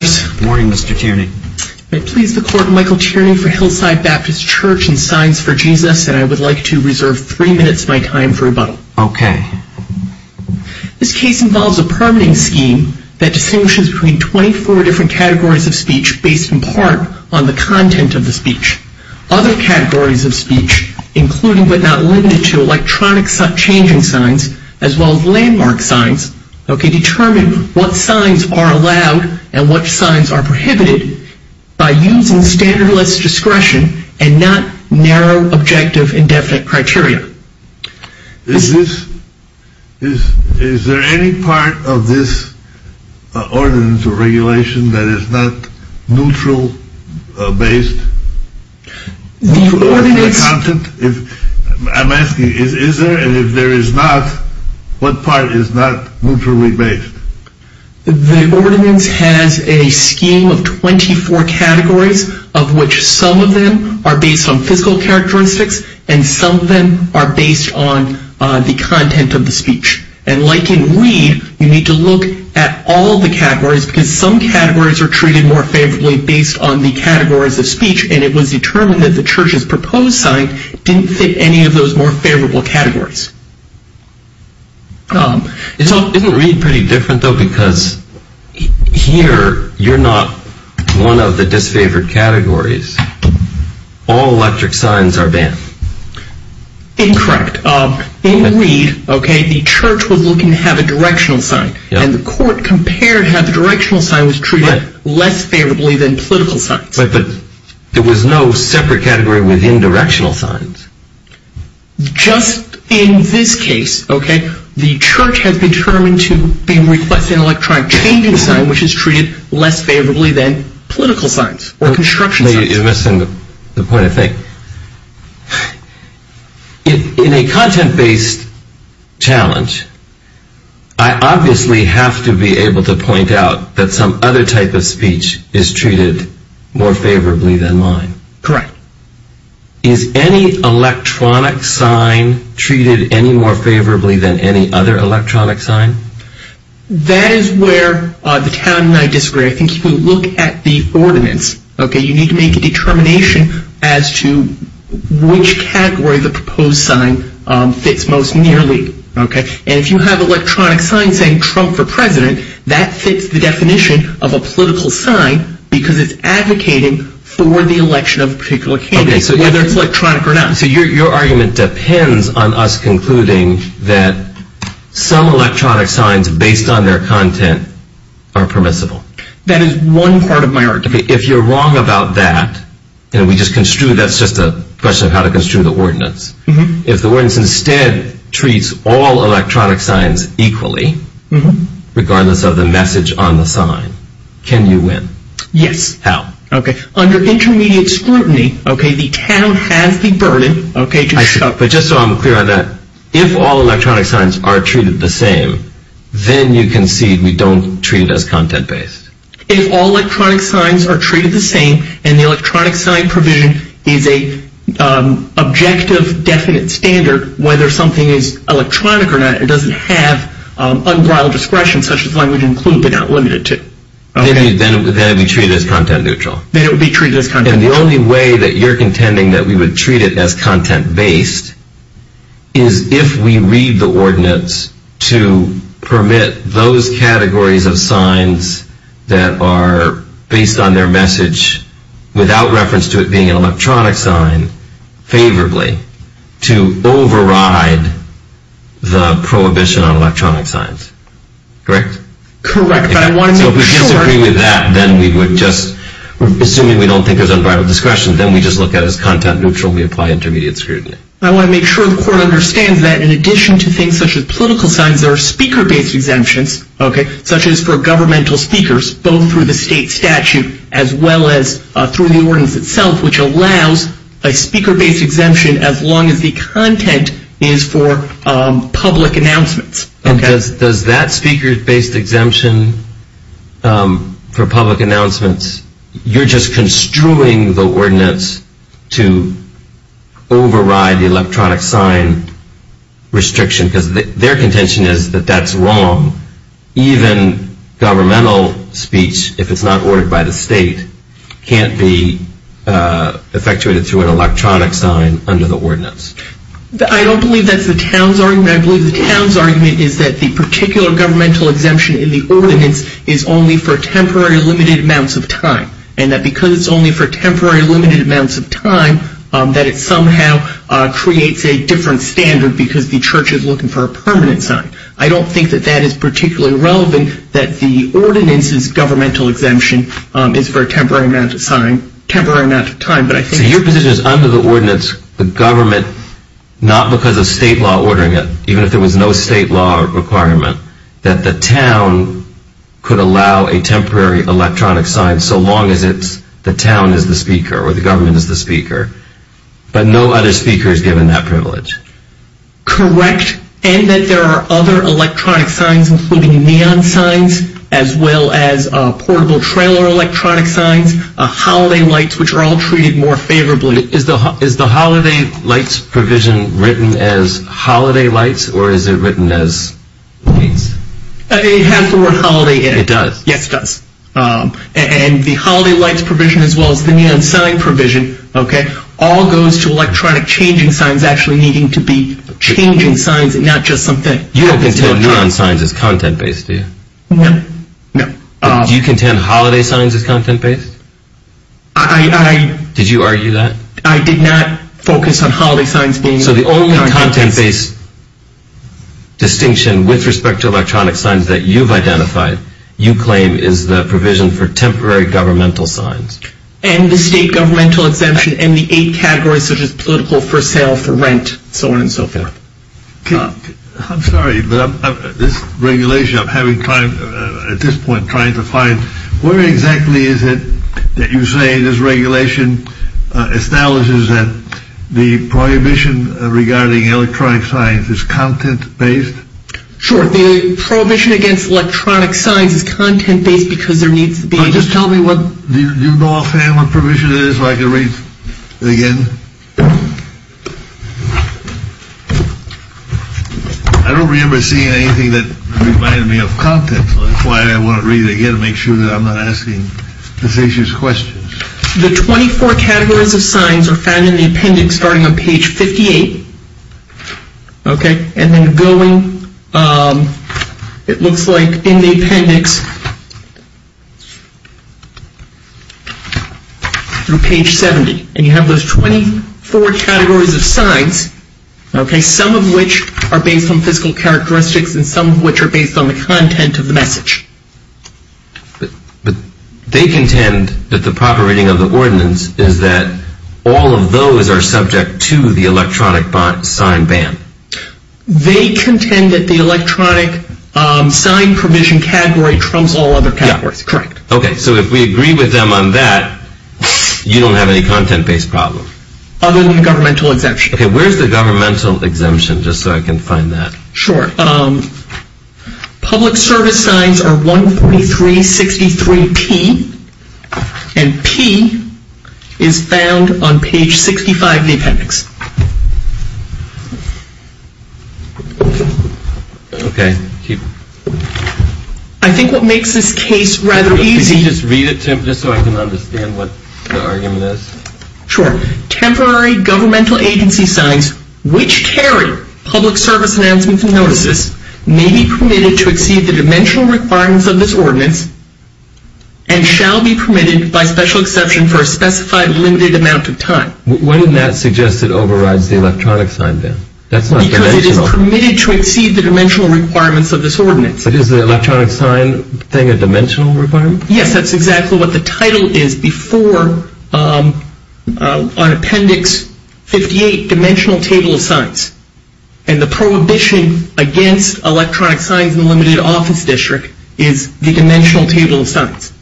This case involves a permitting scheme that distinguishes between 24 different categories of speech based in part on the content of the speech. Other categories of speech, including but not limited to electronic changing signs, as well as landmark signs, determine what signs are allowed and what are not. Landmark signs are prohibited by using standardless discretion and not narrow objective and definite criteria. Is there any part of this ordinance or regulation that is not neutral based? I'm asking is there and if there is not, what part is not neutrally based? The ordinance has a scheme of 24 categories of which some of them are based on physical characteristics and some of them are based on the content of the speech. And like in Reed, you need to look at all the categories because some categories are treated more favorably based on the categories of speech and it was determined that the church's proposed sign didn't fit any of those more favorable categories. Isn't Reed pretty different though because here you're not one of the disfavored categories. All electric signs are banned. Incorrect. In Reed, the church was looking to have a directional sign. And the court compared how the directional sign was treated less favorably than political signs. But there was no separate category within directional signs. Just in this case, okay, the church has determined to request an electronic changing sign which is treated less favorably than political signs or construction signs. You're missing the point, I think. In a content-based challenge, I obviously have to be able to point out that some other type of speech is treated more favorably than mine. Correct. Now, is any electronic sign treated any more favorably than any other electronic sign? That is where the town and I disagree. I think if you look at the ordinance, okay, you need to make a determination as to which category the proposed sign fits most nearly. And if you have electronic signs saying Trump for president, that fits the definition of a political sign because it's advocating for the election of a particular candidate, whether it's electronic or not. So your argument depends on us concluding that some electronic signs based on their content are permissible. That is one part of my argument. If you're wrong about that, and we just construed that's just a question of how to construe the ordinance. If the ordinance instead treats all electronic signs equally, regardless of the message on the sign, can you win? Yes. How? Under intermediate scrutiny, the town has the burden. But just so I'm clear on that, if all electronic signs are treated the same, then you concede we don't treat it as content-based. If all electronic signs are treated the same, and the electronic sign provision is an objective, definite standard, whether something is electronic or not, it doesn't have unbridled discretion, such as language included but not limited to. Then it would be treated as content-neutral. Then it would be treated as content-neutral. And the only way that you're contending that we would treat it as content-based is if we read the ordinance to permit those categories of signs that are based on their message without reference to it being an electronic sign favorably to override the prohibition on electronic signs. Correct? Correct. If we disagree with that, then we would just, assuming we don't think there's unbridled discretion, then we just look at it as content-neutral and we apply intermediate scrutiny. I want to make sure the court understands that in addition to things such as political signs, there are speaker-based exemptions, such as for governmental speakers, both through the state statute as well as through the ordinance itself, which allows a speaker-based exemption as long as the content is for public announcements. And does that speaker-based exemption for public announcements, you're just construing the ordinance to override the electronic sign restriction because their contention is that that's wrong. Even governmental speech, if it's not ordered by the state, can't be effectuated through an electronic sign under the ordinance. I don't believe that's the town's argument. I believe the town's argument is that the particular governmental exemption in the ordinance is only for temporary limited amounts of time and that because it's only for temporary limited amounts of time, that it somehow creates a different standard because the church is looking for a permanent sign. I don't think that that is particularly relevant, that the ordinance's governmental exemption is for a temporary amount of time. So your position is under the ordinance, the government, not because of state law ordering it, even if there was no state law requirement, that the town could allow a temporary electronic sign so long as it's the town is the speaker or the government is the speaker, but no other speaker is given that privilege. Correct, and that there are other electronic signs, including neon signs, as well as portable trailer electronic signs, holiday lights, which are all treated more favorably. Is the holiday lights provision written as holiday lights or is it written as lights? It has the word holiday in it. It does? Yes, it does. And the holiday lights provision, as well as the neon sign provision, all goes to electronic changing signs actually needing to be changing signs and not just something. You don't contend neon signs as content-based, do you? No, no. Do you contend holiday signs as content-based? Did you argue that? I did not focus on holiday signs being content-based. So the only content-based distinction with respect to electronic signs that you've identified, you claim is the provision for temporary governmental signs. And the state governmental exemption and the eight categories, such as political, for sale, for rent, so on and so forth. I'm sorry, but this regulation I'm at this point trying to find, where exactly is it that you say this regulation establishes that the prohibition regarding electronic signs is content-based? Sure, the prohibition against electronic signs is content-based because there needs to be. Just tell me what you know offhand what provision it is so I can read it again. I don't remember seeing anything that reminded me of content, so that's why I want to read it again to make sure that I'm not asking facious questions. The 24 categories of signs are found in the appendix starting on page 58. Okay, and then going, it looks like in the appendix through page 70. And you have those 24 categories of signs, okay, some of which are based on physical characteristics and some of which are based on the content of the message. But they contend that the proper reading of the ordinance is that all of those are subject to the electronic sign ban. They contend that the electronic sign provision category trumps all other categories. Correct. Okay, so if we agree with them on that, you don't have any content-based problem. Other than governmental exemption. Okay, where's the governmental exemption, just so I can find that. Sure. Public service signs are 14363P, and P is found on page 65 of the appendix. Okay. I think what makes this case rather easy. Could you just read it, Tim, just so I can understand what the argument is? Sure. Temporary governmental agency signs which carry public service announcements and notices may be permitted to exceed the dimensional requirements of this ordinance and shall be permitted by special exception for a specified limited amount of time. Why didn't that suggest it overrides the electronic sign ban? Because it is permitted to exceed the dimensional requirements of this ordinance. Is the electronic sign thing a dimensional requirement? Yes, that's exactly what the title is before, on appendix 58, dimensional table of signs. And the prohibition against electronic signs in the limited office district is the dimensional table of signs.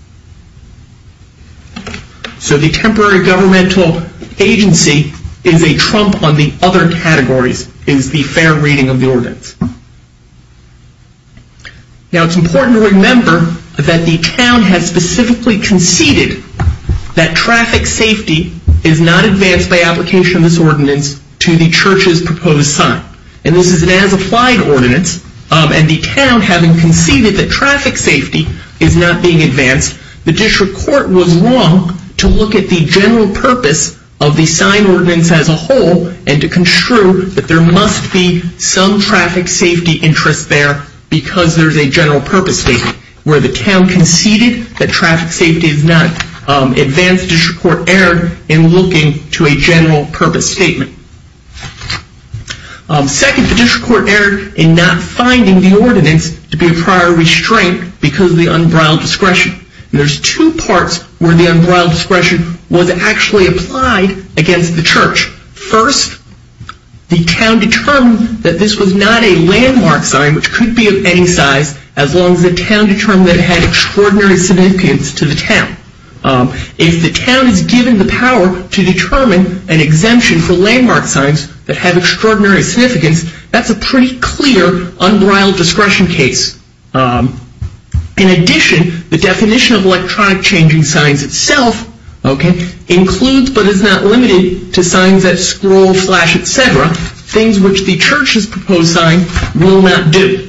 So the temporary governmental agency is a trump on the other categories, is the fair reading of the ordinance. Now it's important to remember that the town has specifically conceded that traffic safety is not advanced by application of this ordinance to the church's proposed sign. And this is an as-applied ordinance, and the town having conceded that traffic safety is not being advanced, the district court was wrong to look at the general purpose of the sign ordinance as a whole and to construe that there must be some traffic safety interest there because there's a general purpose statement. Where the town conceded that traffic safety is not advanced, the district court erred in looking to a general purpose statement. Second, the district court erred in not finding the ordinance to be a prior restraint because of the unbridled discretion. And there's two parts where the unbridled discretion was actually applied against the church. First, the town determined that this was not a landmark sign, which could be of any size, as long as the town determined that it had extraordinary significance to the town. If the town is given the power to determine an exemption for landmark signs that have extraordinary significance, that's a pretty clear unbridled discretion case. In addition, the definition of electronic changing signs itself includes but is not limited to signs that scroll, flash, et cetera, things which the church's proposed sign will not do.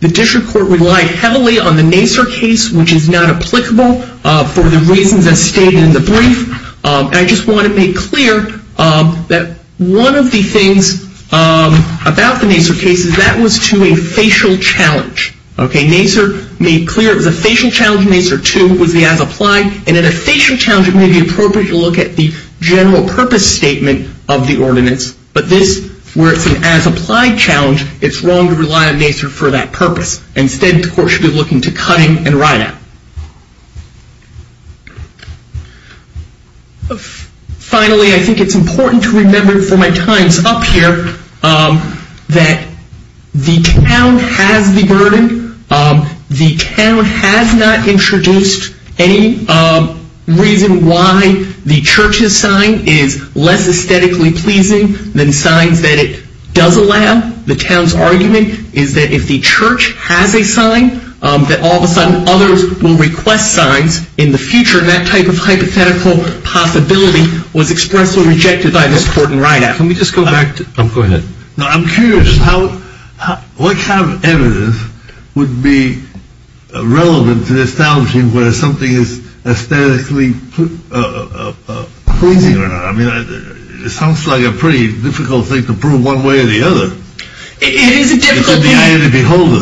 The district court relied heavily on the NACER case, which is not applicable for the reasons as stated in the brief. I just want to make clear that one of the things about the NACER case is that was to a facial challenge. NACER made clear it was a facial challenge. NACER 2 was the as-applied. And in a facial challenge, it may be appropriate to look at the general purpose statement of the ordinance. But this, where it's an as-applied challenge, it's wrong to rely on NACER for that purpose. Instead, the court should be looking to cutting and write-out. Finally, I think it's important to remember for my times up here that the town has the burden. The town has not introduced any reason why the church's sign is less aesthetically pleasing than signs that it does allow. The town's argument is that if the church has a sign, that all of a sudden others will request signs in the future. That type of hypothetical possibility was expressly rejected by this court and write-out. I'm curious. What kind of evidence would be relevant to establishing whether something is aesthetically pleasing or not? I mean, it sounds like a pretty difficult thing to prove one way or the other. It is a difficult thing. It's in the eye of the beholder,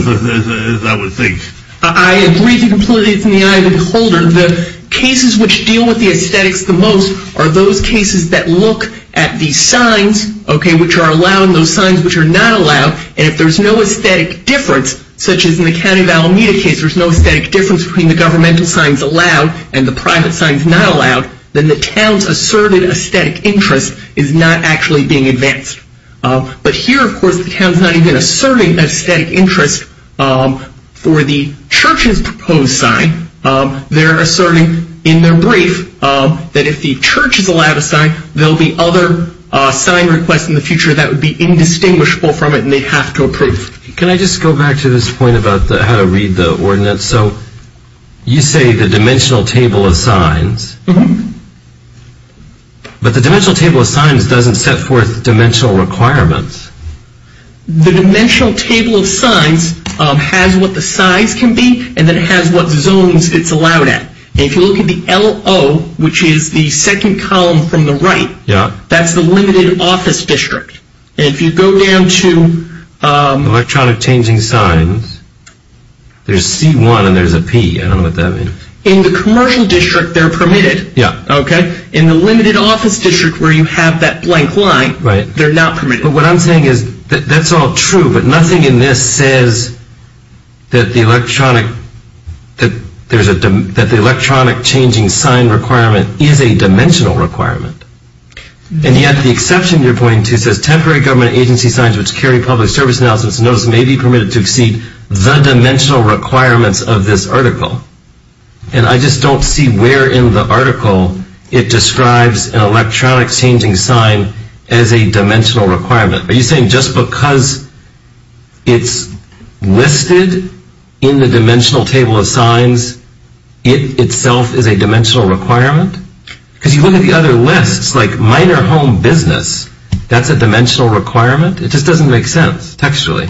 as I would think. I agree completely it's in the eye of the beholder. The cases which deal with the aesthetics the most are those cases that look at the signs which are allowed and those signs which are not allowed. And if there's no aesthetic difference, such as in the county of Alameda case, there's no aesthetic difference between the governmental signs allowed and the private signs not allowed, then the town's asserted aesthetic interest is not actually being advanced. But here, of course, the town's not even asserting aesthetic interest for the church's proposed sign. They're asserting in their brief that if the church is allowed a sign, there'll be other sign requests in the future that would be indistinguishable from it, and they'd have to approve. Can I just go back to this point about how to read the ordinance? So you say the dimensional table of signs, but the dimensional table of signs doesn't set forth dimensional requirements. The dimensional table of signs has what the size can be and then it has what zones it's allowed at. And if you look at the LO, which is the second column from the right, that's the limited office district. And if you go down to electronic changing signs, there's C1 and there's a P. I don't know what that means. In the commercial district, they're permitted. In the limited office district where you have that blank line, they're not permitted. But what I'm saying is that that's all true, but nothing in this says that the electronic changing sign requirement is a dimensional requirement. And yet the exception you're pointing to says temporary government agency signs which carry public service announcements and notices may be permitted to exceed the dimensional requirements of this article. And I just don't see where in the article it describes an electronic changing sign as a dimensional requirement. Are you saying just because it's listed in the dimensional table of signs, it itself is a dimensional requirement? Because you look at the other lists, like minor home business, that's a dimensional requirement? It just doesn't make sense textually.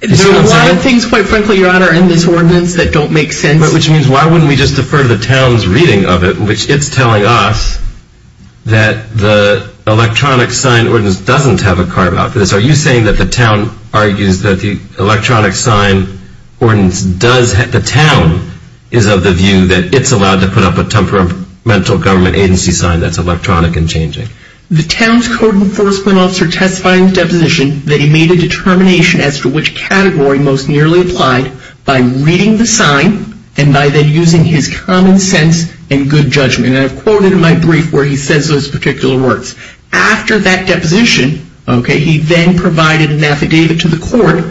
There are a lot of things, quite frankly, Your Honor, in this ordinance that don't make sense. Which means why wouldn't we just defer to the town's reading of it, which it's telling us that the electronic sign ordinance doesn't have a carve out for this. Are you saying that the town argues that the electronic sign ordinance does have, the town is of the view that it's allowed to put up a temperamental government agency sign that's electronic and changing? The town's code enforcement officer testifies in the deposition that he made a determination as to which category most nearly applied by reading the sign and by then using his common sense and good judgment. And I've quoted in my brief where he says those particular words. After that deposition, he then provided an affidavit to the court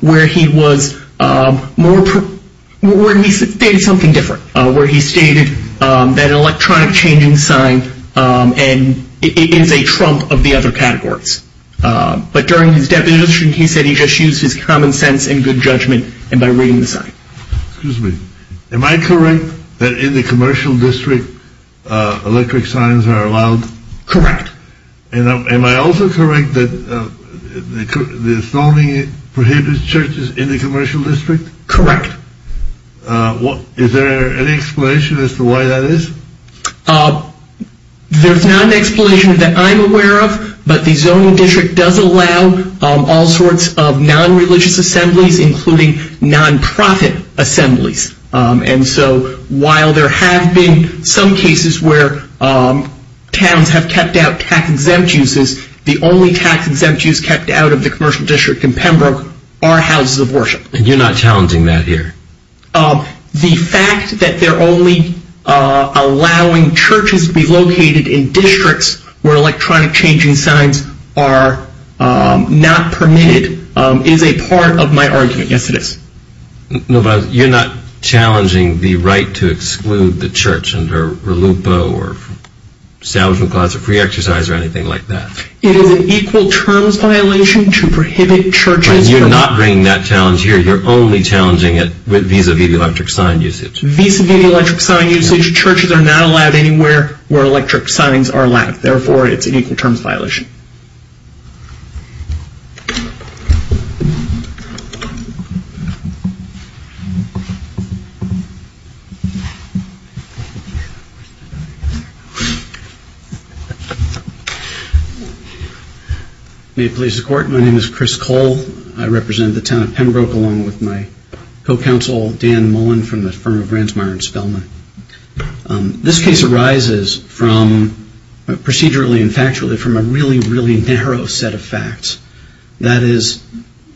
where he stated something different. Where he stated that an electronic changing sign is a trump of the other categories. But during his deposition he said he just used his common sense and good judgment by reading the sign. Excuse me, am I correct that in the commercial district electric signs are allowed? Correct. Am I also correct that the zoning prohibits churches in the commercial district? Correct. Is there any explanation as to why that is? There's not an explanation that I'm aware of, but the zoning district does allow all sorts of non-religious assemblies including non-profit assemblies. And so while there have been some cases where towns have kept out tax-exempt uses, the only tax-exempt use kept out of the commercial district in Pembroke are houses of worship. And you're not challenging that here? The fact that they're only allowing churches to be located in districts where electronic changing signs are not permitted is a part of my argument, yes it is. No, but you're not challenging the right to exclude the church under RELUPA or Establishment Clause of Free Exercise or anything like that? It is an equal terms violation to prohibit churches from... You're not bringing that challenge here, you're only challenging it vis-a-vis electric sign usage. Vis-a-vis electric sign usage, churches are not allowed anywhere where electric signs are allowed, therefore it's an equal terms violation. May it please the court, my name is Chris Cole. I represent the town of Pembroke along with my co-counsel Dan Mullen from the firm of Ransomire and Spelman. This case arises from, procedurally and factually, from a really, really narrow set of facts. That is,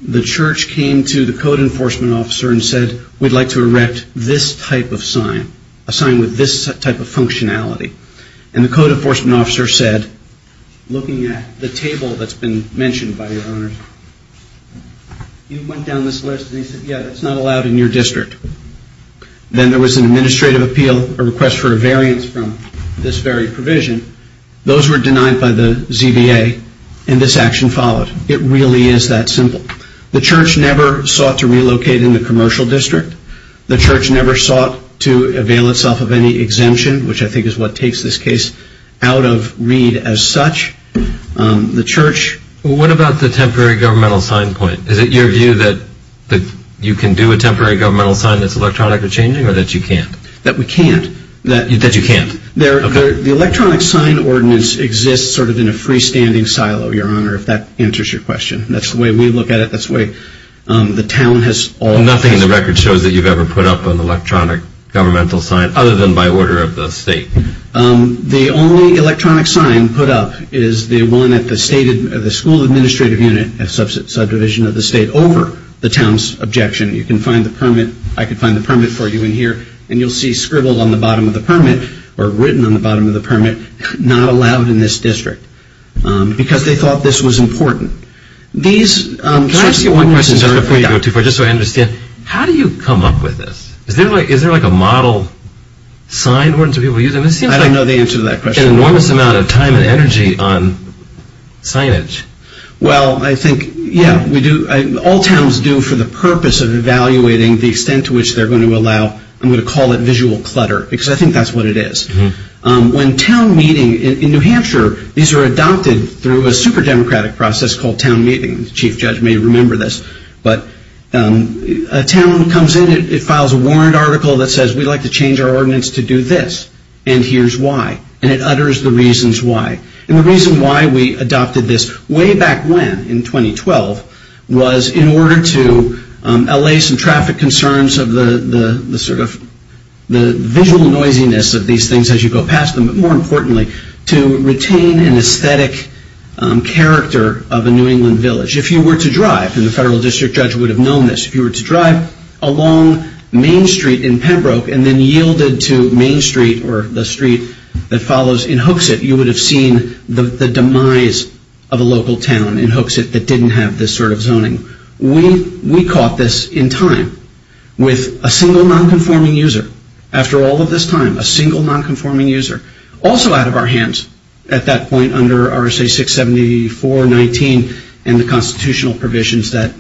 the church came to the code enforcement officer and said, we'd like to erect this type of sign, a sign with this type of functionality. And the code enforcement officer said, looking at the table that's been mentioned by your honors, you went down this list and he said, yeah, that's not allowed in your district. Then there was an administrative appeal, a request for a variance from this very provision. Those were denied by the ZBA and this action followed. It really is that simple. The church never sought to relocate in the commercial district. The church never sought to avail itself of any exemption, which I think is what takes this case out of read as such. The church... What about the temporary governmental sign point? Is it your view that you can do a temporary governmental sign that's electronically changing or that you can't? That we can't. That you can't. The electronic sign ordinance exists sort of in a freestanding silo, your honor, if that answers your question. That's the way we look at it. That's the way the town has... Nothing in the record shows that you've ever put up an electronic governmental sign other than by order of the state. The only electronic sign put up is the one at the school administrative unit, subdivision of the state, over the town's objection. You can find the permit. I can find the permit for you in here. And you'll see scribbled on the bottom of the permit or written on the bottom of the permit, not allowed in this district. Because they thought this was important. These... Can I ask you one question before you go too far just so I understand? How do you come up with this? Is there like a model sign ordinance that people use? I don't know the answer to that question. There's an enormous amount of time and energy on signage. Well, I think, yeah, we do. All towns do for the purpose of evaluating the extent to which they're going to allow, I'm going to call it, visual clutter. Because I think that's what it is. When town meeting in New Hampshire, these are adopted through a super democratic process called town meeting. The chief judge may remember this. But a town comes in, it files a warrant article that says, we'd like to change our ordinance to do this. And here's why. And it utters the reasons why. And the reason why we adopted this way back when, in 2012, was in order to allay some traffic concerns of the sort of, the visual noisiness of these things as you go past them. But more importantly, to retain an aesthetic character of a New England village. If you were to drive, and the federal district judge would have known this, if you were to drive along Main Street in Pembroke and then yielded to Main Street or the street that follows in Hooksett, you would have seen the demise of a local town in Hooksett that didn't have this sort of zoning. We caught this in time with a single non-conforming user. After all of this time, a single non-conforming user. Also out of our hands at that point under RSA 674-19 and the constitutional provisions that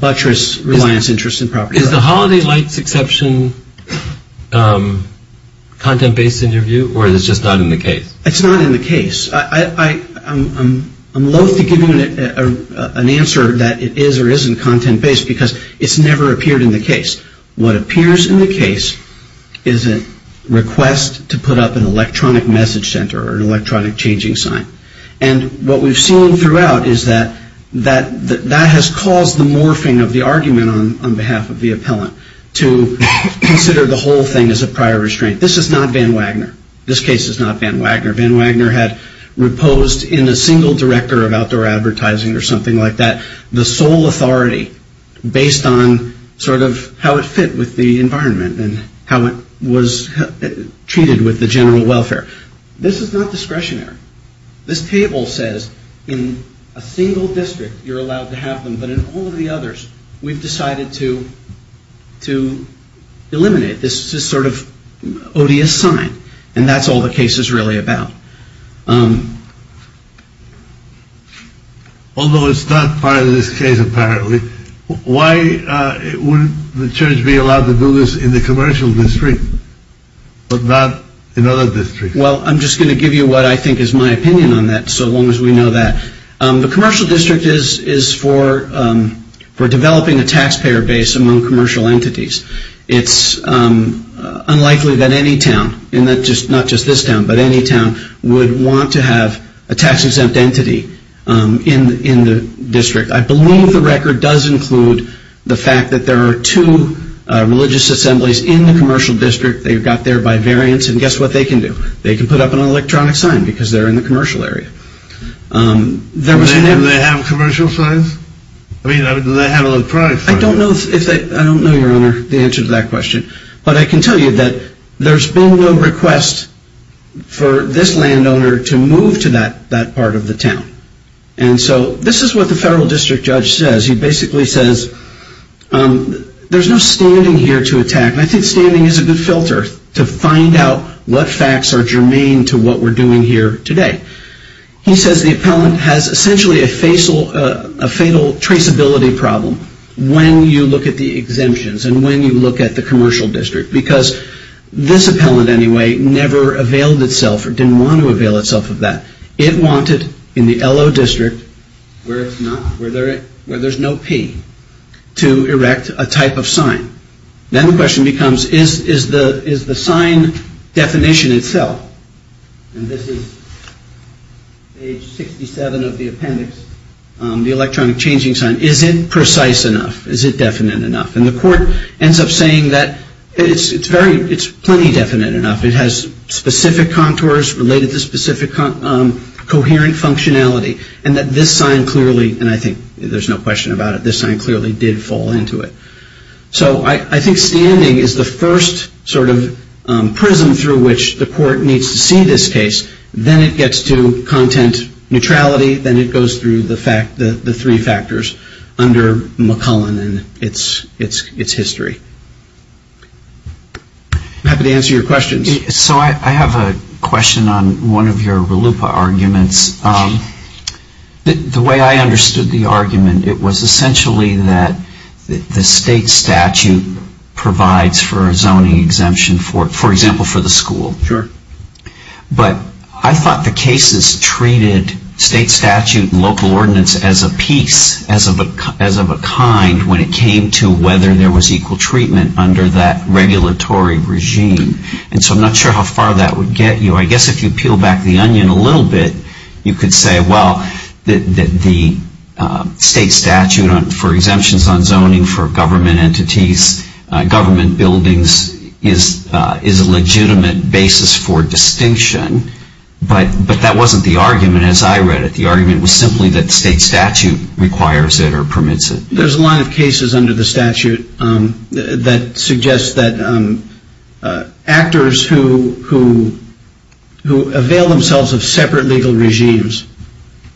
buttress reliance, interest, and property rights. Is the holiday lights exception content-based in your view, or is it just not in the case? It's not in the case. I'm loathe to give you an answer that it is or isn't content-based because it's never appeared in the case. What appears in the case is a request to put up an electronic message center or an electronic changing sign. And what we've seen throughout is that that has caused the morphing of the argument on behalf of the appellant to consider the whole thing as a prior restraint. This is not Van Wagner. This case is not Van Wagner. Van Wagner had reposed in a single director of outdoor advertising or something like that the sole authority based on sort of how it fit with the environment and how it was treated with the general welfare. This is not discretionary. This table says in a single district you're allowed to have them, but in all of the others we've decided to eliminate this sort of odious sign. And that's all the case is really about. Although it's not part of this case apparently, why wouldn't the church be allowed to do this in the commercial district but not in other districts? Well, I'm just going to give you what I think is my opinion on that so long as we know that. The commercial district is for developing a taxpayer base among commercial entities. It's unlikely that any town, not just this town, but any town would want to have a tax-exempt entity in the district. I believe the record does include the fact that there are two religious assemblies in the commercial district. They got there by variance, and guess what they can do? They can put up an electronic sign because they're in the commercial area. Do they have commercial signs? I mean, do they have electronic signs? I don't know, Your Honor, the answer to that question, but I can tell you that there's been no request for this landowner to move to that part of the town. And so this is what the federal district judge says. He basically says there's no standing here to attack. I think standing is a good filter to find out what facts are germane to what we're doing here today. He says the appellant has essentially a fatal traceability problem when you look at the exemptions and when you look at the commercial district because this appellant, anyway, never availed itself or didn't want to avail itself of that. It wanted, in the LO district, where there's no P, to erect a type of sign. Then the question becomes is the sign definition itself, and this is page 67 of the appendix, the electronic changing sign, is it precise enough? Is it definite enough? And the court ends up saying that it's plenty definite enough. It has specific contours related to specific coherent functionality and that this sign clearly, and I think there's no question about it, this sign clearly did fall into it. So I think standing is the first sort of prism through which the court needs to see this case. Then it gets to content neutrality. Then it goes through the three factors under McClellan and its history. I'm happy to answer your questions. So I have a question on one of your RLUIPA arguments. The way I understood the argument, it was essentially that the state statute provides for a zoning exemption, for example, for the school. Sure. But I thought the cases treated state statute and local ordinance as a piece, as of a kind, when it came to whether there was equal treatment under that regulatory regime. And so I'm not sure how far that would get you. I guess if you peel back the onion a little bit, you could say, well, the state statute for exemptions on zoning for government entities, government buildings, is a legitimate basis for distinction. But that wasn't the argument, as I read it. The argument was simply that the state statute requires it or permits it. There's a lot of cases under the statute that suggest that actors who avail themselves of separate legal regimes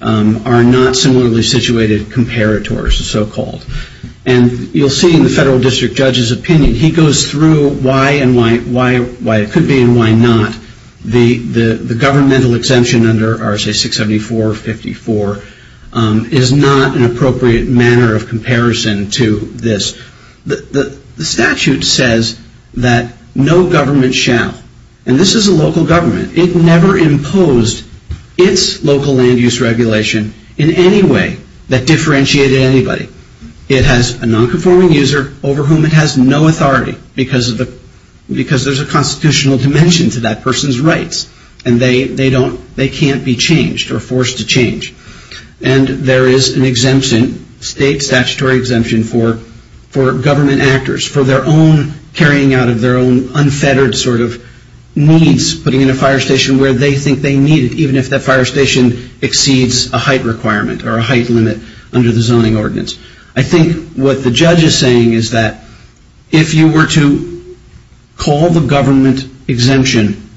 are not similarly situated comparators, so-called. And you'll see in the federal district judge's opinion, he goes through why it could be and why not. The governmental exemption under RSA 674-54 is not an appropriate manner of comparison to this. The statute says that no government shall, and this is a local government, it never imposed its local land use regulation in any way that differentiated anybody. It has a nonconforming user over whom it has no authority because there's a constitutional dimension to that person's rights, and they can't be changed or forced to change. And there is an exemption, state statutory exemption, for government actors, for their own carrying out of their own unfettered sort of needs, putting in a fire station where they think they need it, even if that fire station exceeds a height requirement or a height limit under the zoning ordinance. I think what the judge is saying is that if you were to call the government exemption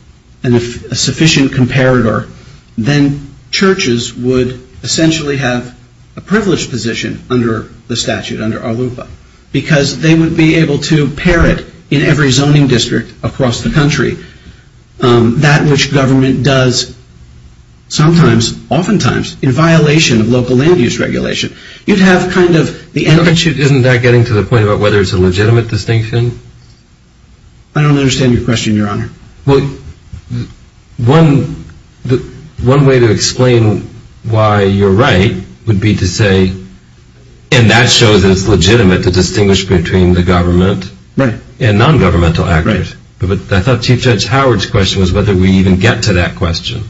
a sufficient comparator, then churches would essentially have a privileged position under the statute, under ALUPA, because they would be able to parrot in every zoning district across the country that which government does sometimes, oftentimes, in violation of local land use regulation. Isn't that getting to the point about whether it's a legitimate distinction? I don't understand your question, Your Honor. Well, one way to explain why you're right would be to say, and that shows that it's legitimate to distinguish between the government and non-governmental actors. But I thought Chief Judge Howard's question was whether we even get to that question,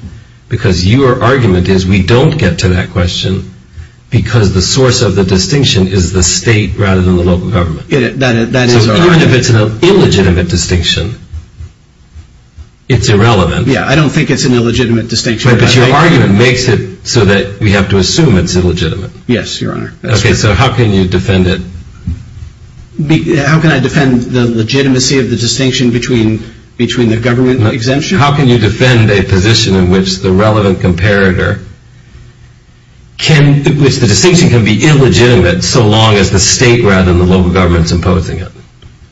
because your argument is we don't get to that question because the source of the distinction is the state rather than the local government. That is our argument. So even if it's an illegitimate distinction, it's irrelevant. Yeah, I don't think it's an illegitimate distinction. But your argument makes it so that we have to assume it's illegitimate. Yes, Your Honor. Okay, so how can you defend it? How can I defend the legitimacy of the distinction between the government exemption? How can you defend a position in which the relevant comparator, which the distinction can be illegitimate so long as the state rather than the local government is imposing it?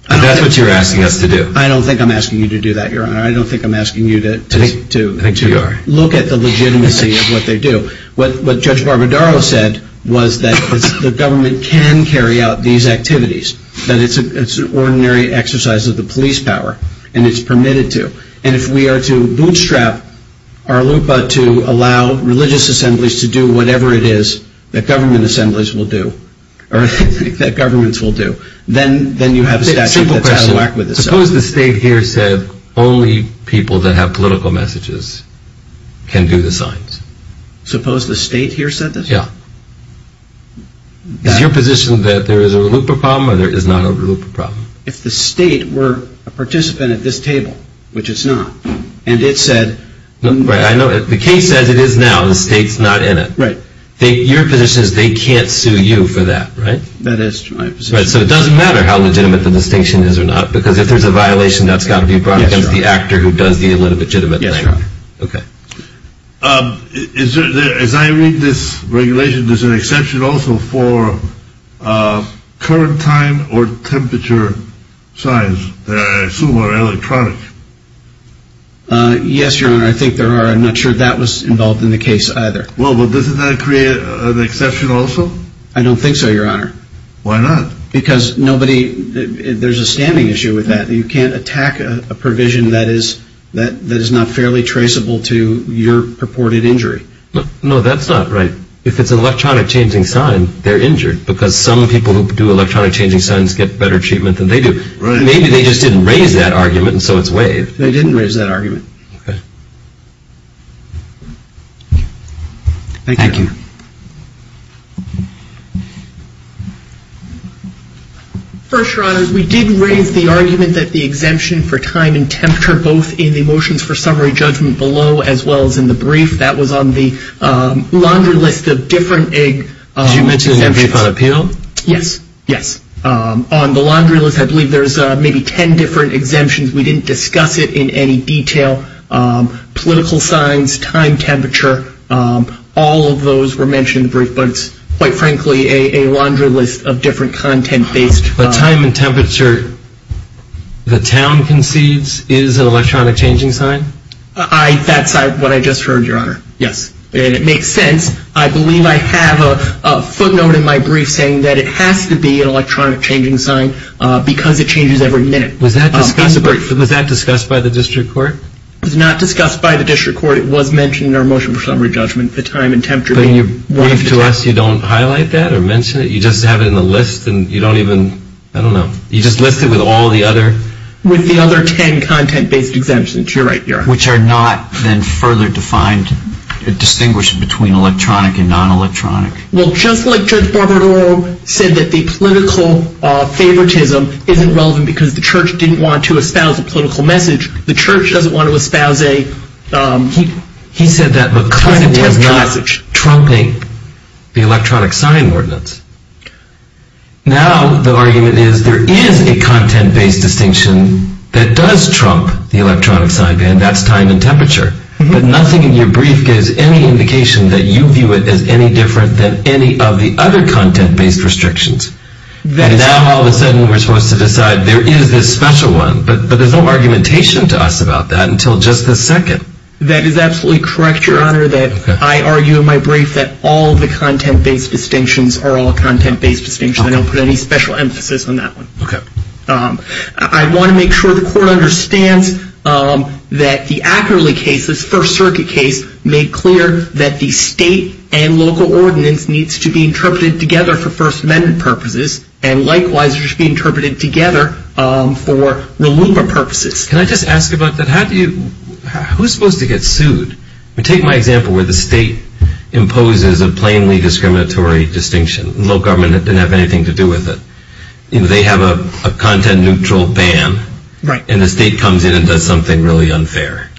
That's what you're asking us to do. I don't think I'm asking you to do that, Your Honor. I don't think I'm asking you to look at the legitimacy of what they do. What Judge Barbadaro said was that the government can carry out these activities, that it's an ordinary exercise of the police power, and it's permitted to. And if we are to bootstrap our LUPA to allow religious assemblies to do whatever it is that government assemblies will do, or that governments will do, then you have a statute that's out of whack with this. Simple question. Suppose the state here said only people that have political messages can do the signs. Suppose the state here said this? Yeah. Is your position that there is a LUPA problem or there is not a LUPA problem? If the state were a participant at this table, which it's not, and it said. Right. I know the case says it is now. The state's not in it. Right. Your position is they can't sue you for that, right? That is my position. Right. So it doesn't matter how legitimate the distinction is or not because if there's a violation, that's got to be brought against the actor who does the illegitimate thing. Yes, Your Honor. Okay. As I read this regulation, there's an exception also for current time or temperature signs that I assume are electronic. Yes, Your Honor. I think there are. I'm not sure that was involved in the case either. Well, doesn't that create an exception also? I don't think so, Your Honor. Why not? Because nobody, there's a standing issue with that. You can't attack a provision that is not fairly traceable to your purported injury. No, that's not right. If it's an electronic changing sign, they're injured because some people who do electronic changing signs get better treatment than they do. Right. Maybe they just didn't raise that argument and so it's waived. They didn't raise that argument. Okay. Thank you. Thank you. First, Your Honors, we did raise the argument that the exemption for time and temperature, both in the motions for summary judgment below as well as in the brief, that was on the laundry list of different exemptions. Did you mention the brief on appeal? Yes. Yes. On the laundry list, I believe there's maybe 10 different exemptions. We didn't discuss it in any detail. Political signs, time, temperature, all of those were mentioned in the brief. But it's, quite frankly, a laundry list of different content-based. The time and temperature the town concedes is an electronic changing sign? That's what I just heard, Your Honor. Yes. And it makes sense. I believe I have a footnote in my brief saying that it has to be an electronic changing sign because it changes every minute. Was that discussed by the district court? It was not discussed by the district court. It was mentioned in our motion for summary judgment. But in your brief to us, you don't highlight that or mention it? You just have it in the list and you don't even, I don't know. You just list it with all the other? With the other 10 content-based exemptions. You're right, Your Honor. Which are not then further defined, distinguished between electronic and non-electronic. Well, just like Judge Barbaro said that the political favoritism isn't relevant because the church didn't want to espouse a political message, the church doesn't want to espouse a political message. He said that because it is not trumping the electronic sign ordinance. Now the argument is there is a content-based distinction that does trump the electronic sign, and that's time and temperature. But nothing in your brief gives any indication that you view it as any different than any of the other content-based restrictions. And now all of a sudden we're supposed to decide there is this special one. But there's no argumentation to us about that until just this second. That is absolutely correct, Your Honor, that I argue in my brief that all of the content-based distinctions are all content-based distinctions. I don't put any special emphasis on that one. Okay. I want to make sure the Court understands that the Ackerley case, this First Circuit case, made clear that the state and local ordinance needs to be interpreted together for First Amendment purposes, and likewise it should be interpreted together for RLUMA purposes. Can I just ask about that? Who is supposed to get sued? Take my example where the state imposes a plainly discriminatory distinction. The local government didn't have anything to do with it. They have a content-neutral ban, and the state comes in and does something really unfair.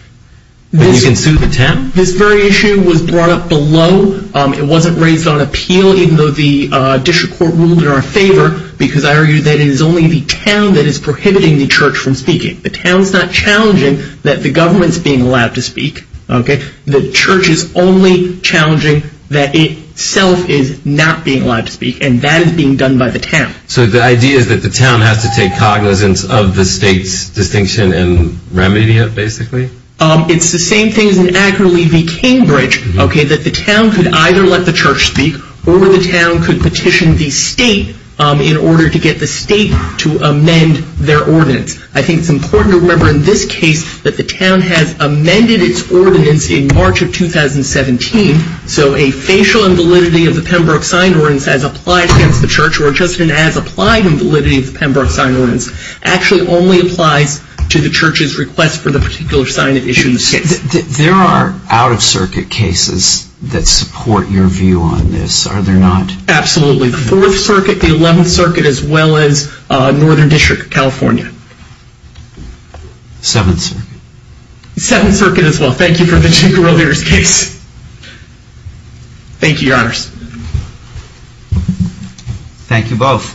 You can sue the town? This very issue was brought up below. It wasn't raised on appeal, even though the district court ruled in our favor, because I argued that it is only the town that is prohibiting the church from speaking. The town is not challenging that the government is being allowed to speak. The church is only challenging that itself is not being allowed to speak, and that is being done by the town. So the idea is that the town has to take cognizance of the state's distinction and remedy it, basically? It's the same thing as in Ackerley v. Cambridge, that the town could either let the church speak or the town could petition the state in order to get the state to amend their ordinance. I think it's important to remember in this case that the town has amended its ordinance in March of 2017, so a facial invalidity of the Pembroke signed ordinance as applied against the church or just an as-applied invalidity of the Pembroke signed ordinance actually only applies to the church's request for the particular sign it issued in this case. There are out-of-circuit cases that support your view on this, are there not? Absolutely. The 4th Circuit, the 11th Circuit, as well as Northern District, California. 7th Circuit. 7th Circuit as well. Thank you for the Chicago Realtors case. Thank you, Your Honors. Thank you both.